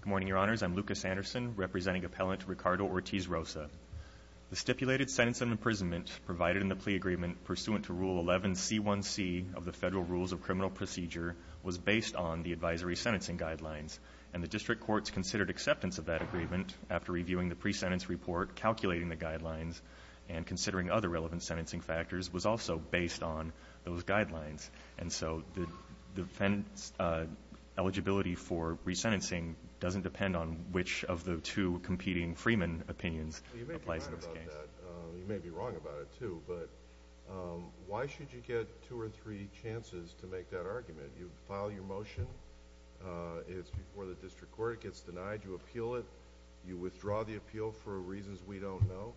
Good morning, your honors. I'm Lucas Anderson, representing appellant Ricardo Ortiz Rosa. The stipulated sentence of imprisonment provided in the plea agreement pursuant to Rule 11 C1C of the Federal Rules of Criminal Procedure was based on the advisory sentencing guidelines, and the district courts considered acceptance of that agreement after reviewing the pre-sentence report, calculating the guidelines, and considering other relevant sentencing factors was also based on those guidelines. And so the defendants' eligibility for re-sentencing doesn't depend on which of the two competing Freeman opinions applies in this case. Well, you may be right about that. You may be wrong about it, too. But why should you get two or three chances to make that argument? You file your motion. It's before the district court. It gets denied. You appeal it. You withdraw the appeal for reasons we don't know.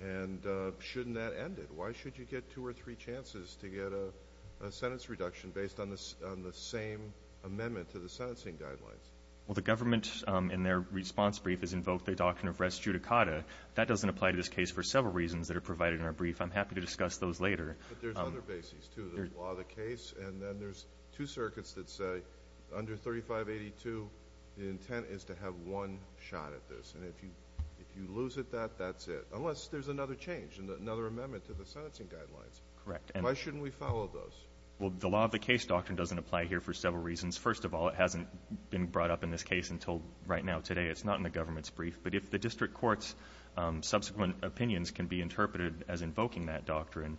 And shouldn't that end it? Why should you get two or three chances to get a sentence reduction based on the same amendment to the sentencing guidelines? Well, the government, in their response brief, has invoked the doctrine of res judicata. That doesn't apply to this case for several reasons that are provided in our brief. I'm happy to discuss those later. But there's other bases, too. There's law of the case, and then there's two circuits that say under 3582, the intent is to have one shot at this. And if you lose at that, that's it, unless there's another change, another amendment to the sentencing guidelines. Correct. Why shouldn't we follow those? Well, the law of the case doctrine doesn't apply here for several reasons. First of all, it hasn't been brought up in this case until right now, today. It's not in the government's brief. But if the district court's subsequent opinions can be interpreted as invoking that doctrine,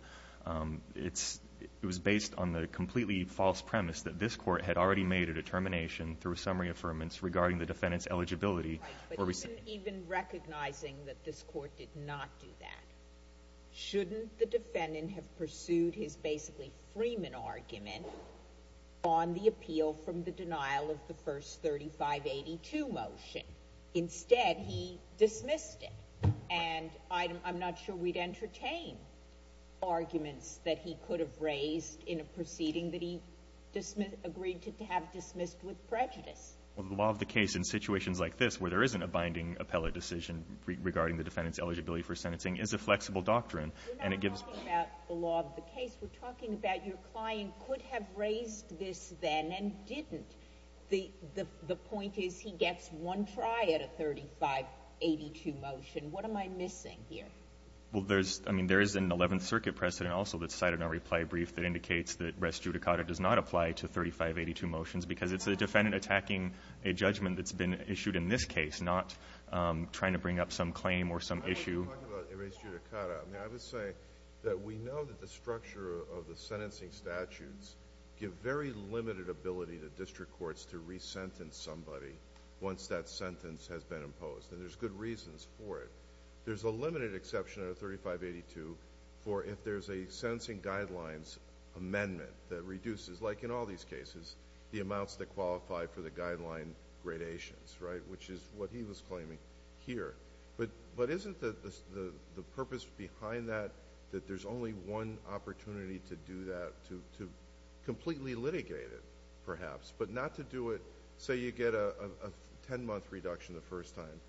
it's – it was based on the completely false premise that this court had already made a determination through a summary of affirmance regarding the defendant's eligibility where we said – Even recognizing that this court did not do that, shouldn't the defendant have pursued his basically Freeman argument on the appeal from the denial of the first 3582 motion? Instead, he dismissed it. And I'm not sure we'd entertain arguments that he could have raised in a proceeding that he agreed to have dismissed with prejudice. Well, the law of the case in situations like this where there isn't a binding appellate decision regarding the defendant's eligibility for sentencing is a flexible doctrine, and it gives – We're not talking about the law of the case. We're talking about your client could have raised this then and didn't. The point is he gets one try at a 3582 motion. What am I missing here? Well, there's – I mean, there is an Eleventh Circuit precedent also that's cited in our reply brief that indicates that res judicata does not apply to 3582 motions, because it's the defendant attacking a judgment that's been issued in this case, not trying to bring up some claim or some issue. I'm not talking about res judicata. I mean, I would say that we know that the structure of the sentencing statutes give very limited ability to district courts to re-sentence somebody once that sentence has been imposed. And there's good reasons for it. There's a limited exception under 3582 for if there's a sentencing guidelines amendment that reduces like in all these cases, the amounts that qualify for the guideline gradations, right, which is what he was claiming here. But isn't the purpose behind that that there's only one opportunity to do that, to completely litigate it, perhaps, but not to do it – say you get a 10-month reduction the first time.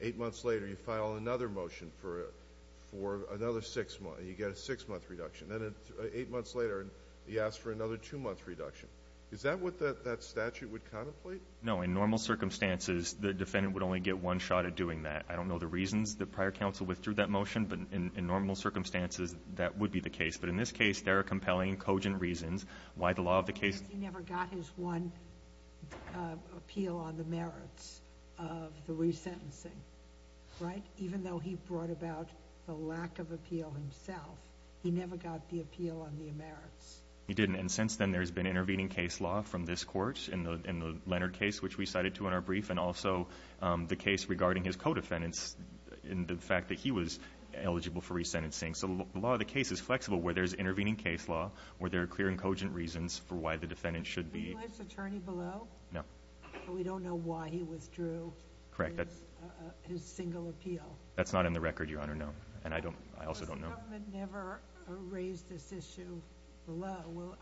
Eight months later, you file another motion for another six – you get a six-month reduction. Then eight months later, you ask for another two-month reduction. Is that what that statute would contemplate? No. In normal circumstances, the defendant would only get one shot at doing that. I don't know the reasons the prior counsel withdrew that motion, but in normal circumstances, that would be the case. But in this case, there are compelling, cogent reasons why the law of the case – Because he never got his one appeal on the merits of the re-sentencing, right? Even though he brought about the lack of appeal himself, he never got the appeal on the merits. He didn't. And since then, there's been intervening case law from this court in the Leonard case, which we cited to in our brief, and also the case regarding his co-defendants in the fact that he was eligible for re-sentencing. So the law of the case is flexible where there's intervening case law, where there are clear and cogent reasons for why the defendant should be – Is he life's attorney below? No. So we don't know why he withdrew his single appeal? That's not in the record, Your Honor, no. And I also don't know. The government never raised this issue below.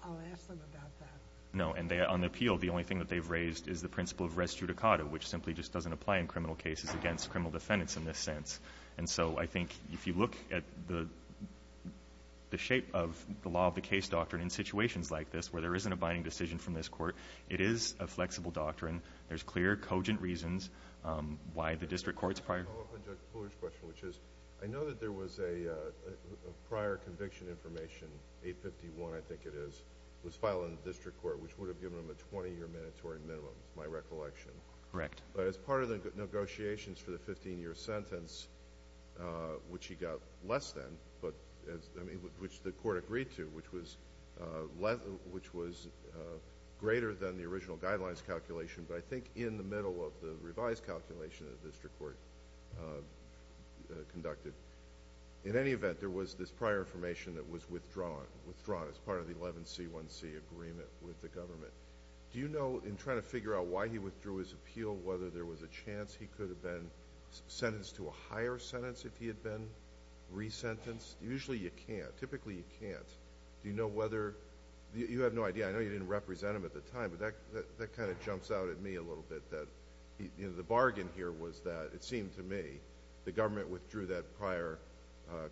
I'll ask them about that. No. And on the appeal, the only thing that they've raised is the principle of res judicata, which simply just doesn't apply in criminal cases against criminal defendants in this sense. And so I think if you look at the shape of the law of the case doctrine in situations like this, where there isn't a binding decision from this court, it is a flexible doctrine. There's clear, cogent reasons why the district court's prior – prior conviction information, 851, I think it is, was filed in the district court, which would have given him a 20-year mandatory minimum, is my recollection. Correct. But as part of the negotiations for the 15-year sentence, which he got less than, but – I mean, which the court agreed to, which was greater than the original guidelines calculation, but I think in the middle of the revised calculation that the district court conducted. In any event, there was this prior information that was withdrawn, withdrawn as part of the 11C1C agreement with the government. Do you know, in trying to figure out why he withdrew his appeal, whether there was a chance he could have been sentenced to a higher sentence if he had been resentenced? Usually you can't. Typically you can't. Do you know whether – you have no idea. I know you didn't represent him at the time, but that kind of jumps out at me a little bit, that the bargain here was that, it seemed to me, the government withdrew that prior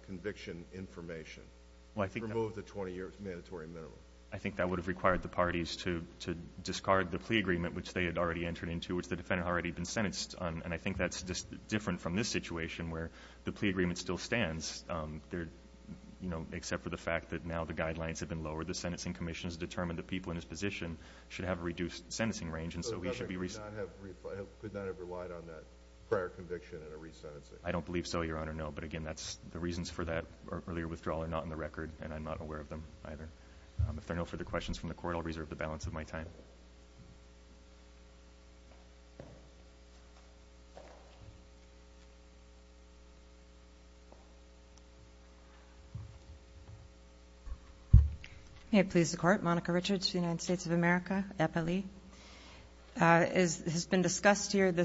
conviction information, removed the 20-year mandatory minimum. I think that would have required the parties to discard the plea agreement, which they had already entered into, which the defendant had already been sentenced on. And I think that's different from this situation, where the plea agreement still stands, except for the fact that now the guidelines have been lowered. The sentencing commission has determined that people in his position should have a reduced sentencing range, and so he should be – So the government could not have relied on that prior conviction in a resentencing? I don't believe so, Your Honor, no. But again, that's – the reasons for that earlier withdrawal are not on the record, and I'm not aware of them either. If there are no further questions from the Court, I'll reserve the balance of my time. May it please the Court. Monica Richards, United States of America, Eppley. As has been adjudicated,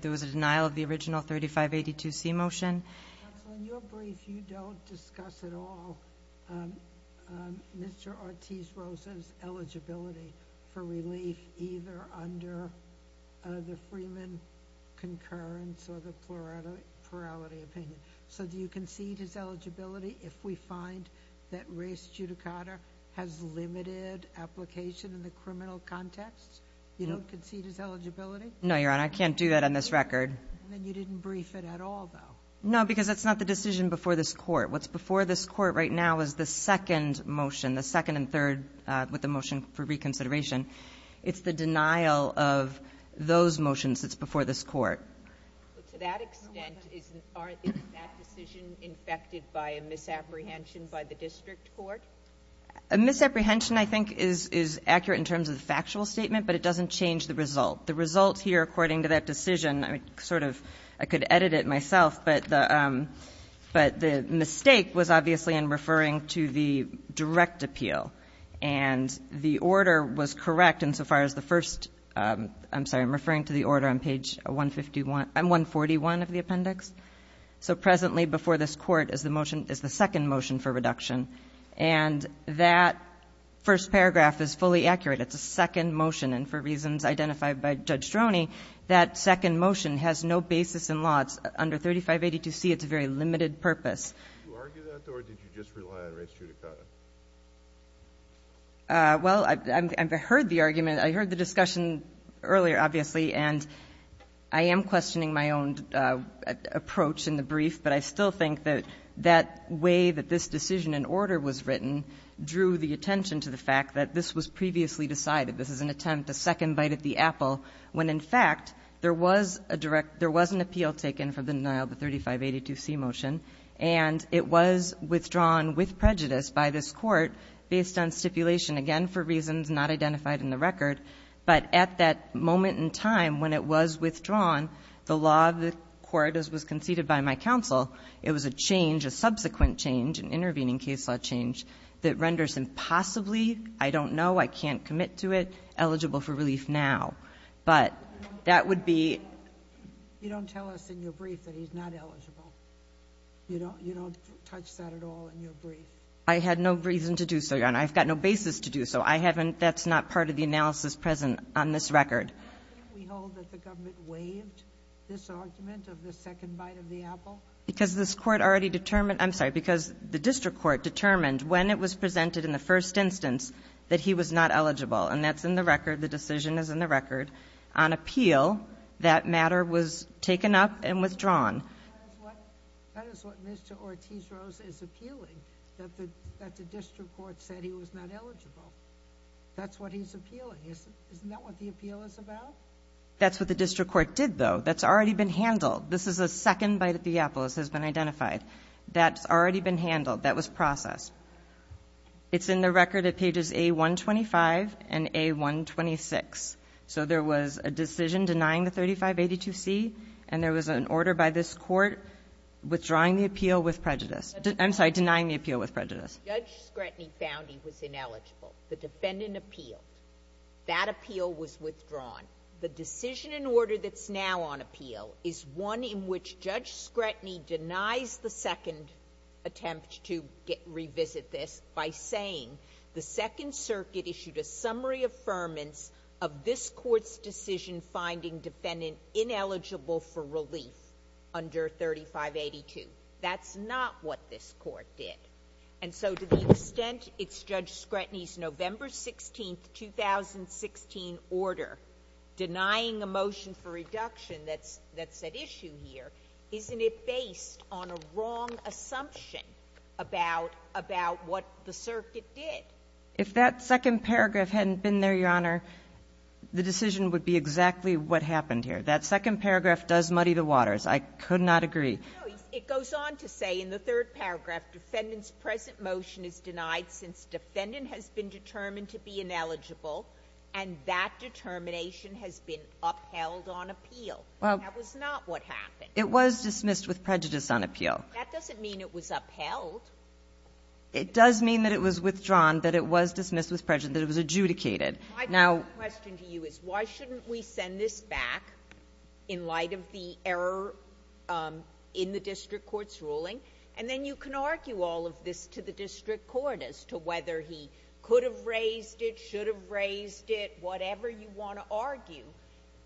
there was a denial of the original 3582C motion. Counsel, in your brief, you don't discuss at all Mr. Ortiz-Rosa's eligibility for relief either under the Freeman concurrence or the plurality opinion. So do you concede his eligibility if we find that res judicata has limited application in the criminal context? You don't concede his eligibility? No, Your Honor. I can't do that on this record. Then you didn't brief it at all, though. No, because that's not the decision before this Court. What's before this Court right now is the second motion, the second and third with the motion for reconsideration. It's the denial of those motions that's before this Court. To that extent, isn't – aren't – isn't that decision infected by a misapprehension by the district court? A misapprehension, I think, is accurate in terms of the factual statement, but it doesn't change the result. The result here, according to that decision, I sort of – I could edit it myself, but the – but the mistake was obviously in referring to the direct appeal. And the order was correct insofar as the first – I'm sorry, I'm referring to the order on page 151 – 141 of the appendix. So presently before this Court is the motion – is the second motion for reduction. And that first paragraph is fully accurate. It's a second motion. And for reasons identified by Judge Stroni, that second motion has no basis in law. It's under 3582C. It's a very limited purpose. Did you argue that, or did you just rely on res judicata? Well, I've heard the argument. I heard the discussion earlier, obviously, and I am questioning my own approach in the brief, but I still think that that way that this decision and order was written drew the attention to the fact that this was previously decided. This is an attempt, a second bite at the apple, when in fact there was a direct – there was an appeal taken for the denial of the 3582C motion, and it was withdrawn with prejudice by this Court based on stipulation, again, for reasons not identified in the record. But at that moment in time when it was withdrawn, the law of the Court, as was conceded by my counsel, it was a change, a subsequent change, an intervening case law change, that renders him possibly – I don't know, I can't commit to it – eligible for relief now. But that would be – You don't tell us in your brief that he's not eligible. You don't touch that at all in your brief. I had no reason to do so, Your Honor. I've got no basis to do so. I haven't – that's not part of the analysis present on this record. Why can't we hold that the government waived this argument of the second bite of the apple? Because this Court already determined – I'm sorry, because the district court determined when it was presented in the first instance that he was not eligible. And that's in the record. The decision is in the record. On appeal, that matter was taken up and withdrawn. That is what Mr. Ortiz-Rose is appealing, that the district court said he was not eligible. That's what he's appealing. Isn't that what the appeal is about? That's what the district court did, though. That's already been handled. This is a second bite of the apple. This has been identified. That's already been handled. That was processed. It's in the record at pages A125 and A126. So there was a decision denying the 3582C, and there was an order by this Court withdrawing the appeal with prejudice – I'm sorry, denying the appeal with prejudice. Judge Scranton found he was ineligible. The defendant appealed. That appeal was withdrawn. The decision and order that's now on appeal is one in which Judge Scranton denies the second attempt to revisit this by saying, the Second Circuit issued a summary affirmance of this Court's decision finding defendant ineligible for relief under 3582. That's not what this Court did. And so to the extent it's Judge Scranton's November 16th, 2016 order denying a motion for reduction that's at issue here, isn't it based on a wrong assumption about what the Circuit did? If that second paragraph hadn't been there, Your Honor, the decision would be exactly what happened here. That second paragraph does muddy the waters. I could not agree. It goes on to say in the third paragraph, defendant's present motion is denied since defendant has been determined to be ineligible, and that determination has been upheld on appeal. That was not what happened. It was dismissed with prejudice on appeal. That doesn't mean it was upheld. It does mean that it was withdrawn, that it was dismissed with prejudice, that it was adjudicated. My question to you is, why shouldn't we send this back in light of the error in the district court's ruling? And then you can argue all of this to the district court as to whether he could have raised it, should have raised it, whatever you want to argue,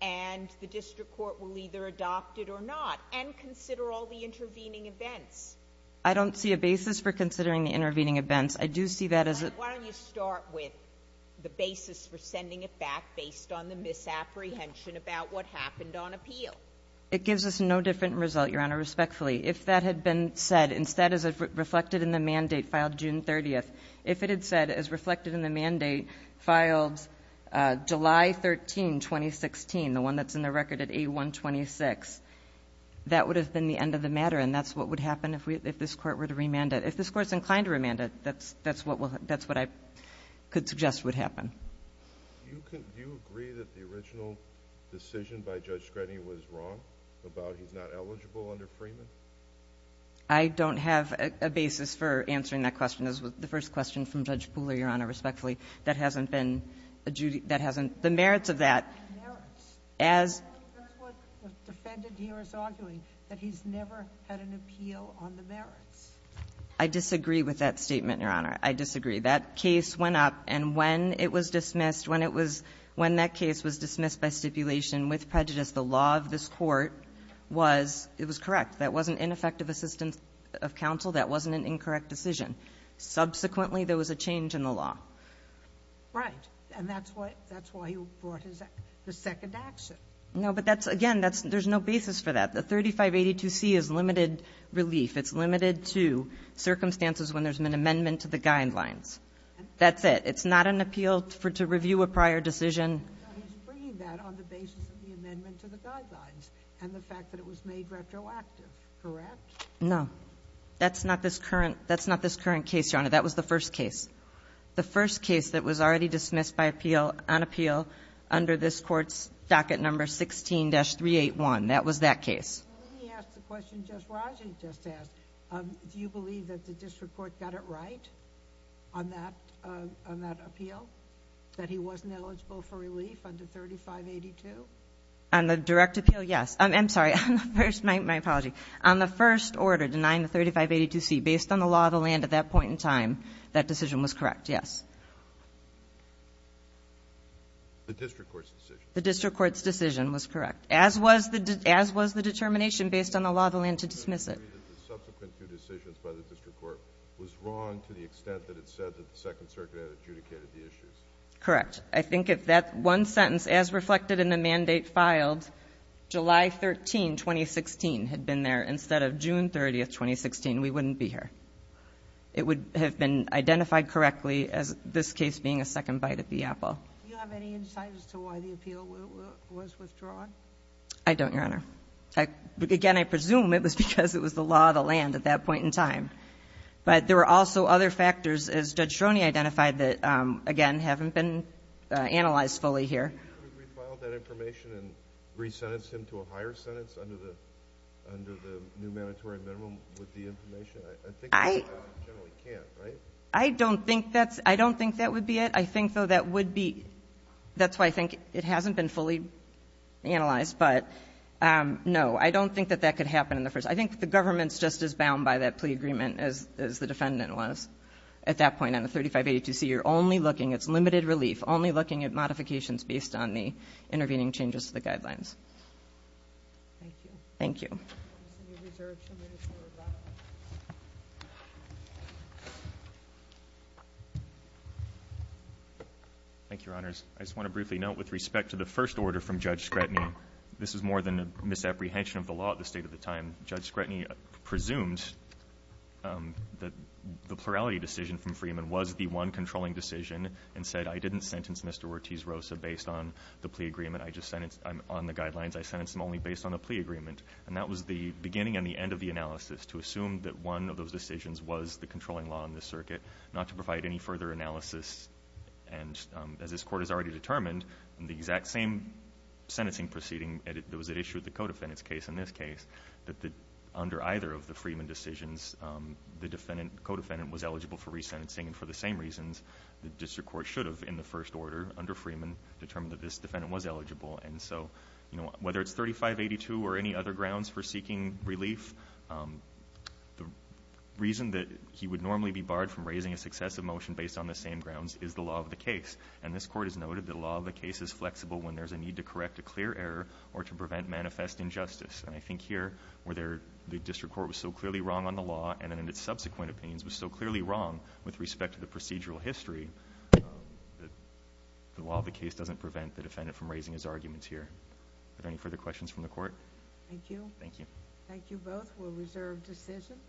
and the district court will either adopt it or not, and consider all the intervening events. I don't see a basis for considering the intervening events. I do see that as a ---- Why don't you start with the basis for sending it back based on the misapprehension about what happened on appeal? It gives us no different result, Your Honor, respectfully. If that had been said instead as reflected in the mandate filed June 30th, if it had said as reflected in the mandate filed July 13, 2016, the one that's in the record at A-126, that would have been the end of the matter, and that's what would happen if this court were to remand it. If this court's inclined to remand it, that's what I could suggest would happen. Do you agree that the original decision by Judge Scredini was wrong about he's not eligible under Freeman? I don't have a basis for answering that question. That was the first question from Judge Pooler, Your Honor, respectfully. That hasn't been adjudicated. The merits of that, as ---- That's what the defendant here is arguing, that he's never had an appeal on the merits. I disagree with that statement, Your Honor. I disagree. That case went up, and when it was dismissed, when it was ---- when that case was dismissed by stipulation with prejudice, the law of this court was ---- it was correct. That wasn't ineffective assistance of counsel. That wasn't an incorrect decision. Subsequently, there was a change in the law. Right. And that's why he brought his second action. No, but that's ---- again, that's ---- there's no basis for that. The 3582C is limited relief. It's limited to circumstances when there's been an amendment to the guidelines. That's it. It's not an appeal for ---- to review a prior decision. He's bringing that on the basis of the amendment to the guidelines and the fact that it was made retroactive, correct? No. That's not this current ---- that's not this current case, Your Honor. That was the first case. The first case that was already dismissed by appeal ---- on appeal under this court's docket number 16-381. That was that case. Let me ask the question Judge Raji just asked. Do you believe that the district court got it right on that ---- on that appeal, that he wasn't eligible for relief under 3582? On the direct appeal, yes. I'm sorry. First, my apology. On the first order denying the 3582C, based on the law of the land at that point in time, that decision was correct, yes. The district court's decision. The district court's decision was correct. As was the determination based on the law of the land to dismiss it. The subsequent two decisions by the district court was wrong to the extent that it said that the Second Circuit had adjudicated the issues. Correct. I think if that one sentence, as reflected in the mandate filed, July 13, 2016, had been there instead of June 30, 2016, we wouldn't be here. It would have been identified correctly as this case being a second bite at the apple. Do you have any insight as to why the appeal was withdrawn? I don't, Your Honor. Again, I presume it was because it was the law of the land at that point in time. But there were also other factors, as Judge Stroni identified, that, again, haven't been analyzed fully here. Could you refile that information and re-sentence him to a higher sentence under the new mandatory minimum with the information? I think you generally can't, right? I don't think that's ---- I don't think that would be it. I think, though, that would be ---- that's why I think it hasn't been fully analyzed. But, no, I don't think that that could happen in the first ---- I think the government is just as bound by that plea agreement as the defendant was at that point on the 3582C. You're only looking, it's limited relief, only looking at modifications based on the intervening changes to the guidelines. Thank you. Thank you. Mr. New Reserve, some minutes for rebuttal. Thank you, Your Honors. I just want to briefly note, with respect to the first order from Judge Scretany, this is more than a misapprehension of the law at the state of the time. Judge Scretany presumed that the plurality decision from Freeman was the one controlling decision and said, I didn't sentence Mr. Ortiz-Rosa based on the plea agreement. I just sentenced him on the guidelines. I sentenced him only based on a plea agreement. And that was the beginning and the end of the analysis, to assume that one of those decisions was the controlling law in this circuit, not to provide any further analysis. And as this Court has already determined, the exact same sentencing proceeding that was at issue with the co-defendant's case in this case, that under either of the Freeman decisions, the defendant, co-defendant, was eligible for resentencing. And for the same reasons, the district court should have, in the first order, under Freeman, determined that this defendant was eligible. And so, you know, whether it's 3582 or any other grounds for seeking relief, the reason that he would normally be barred from raising a successive motion based on the same grounds is the law of the case. And this Court has noted that the law of the case is flexible when there's a need to correct a clear error or to prevent manifest injustice. And I think here, where the district court was so clearly wrong on the law and in its subsequent opinions was so clearly wrong with respect to the procedural history, the law of the case doesn't prevent the defendant from raising his arguments here. Are there any further questions from the Court? Thank you. Thank you. Thank you both. We'll reserve decision.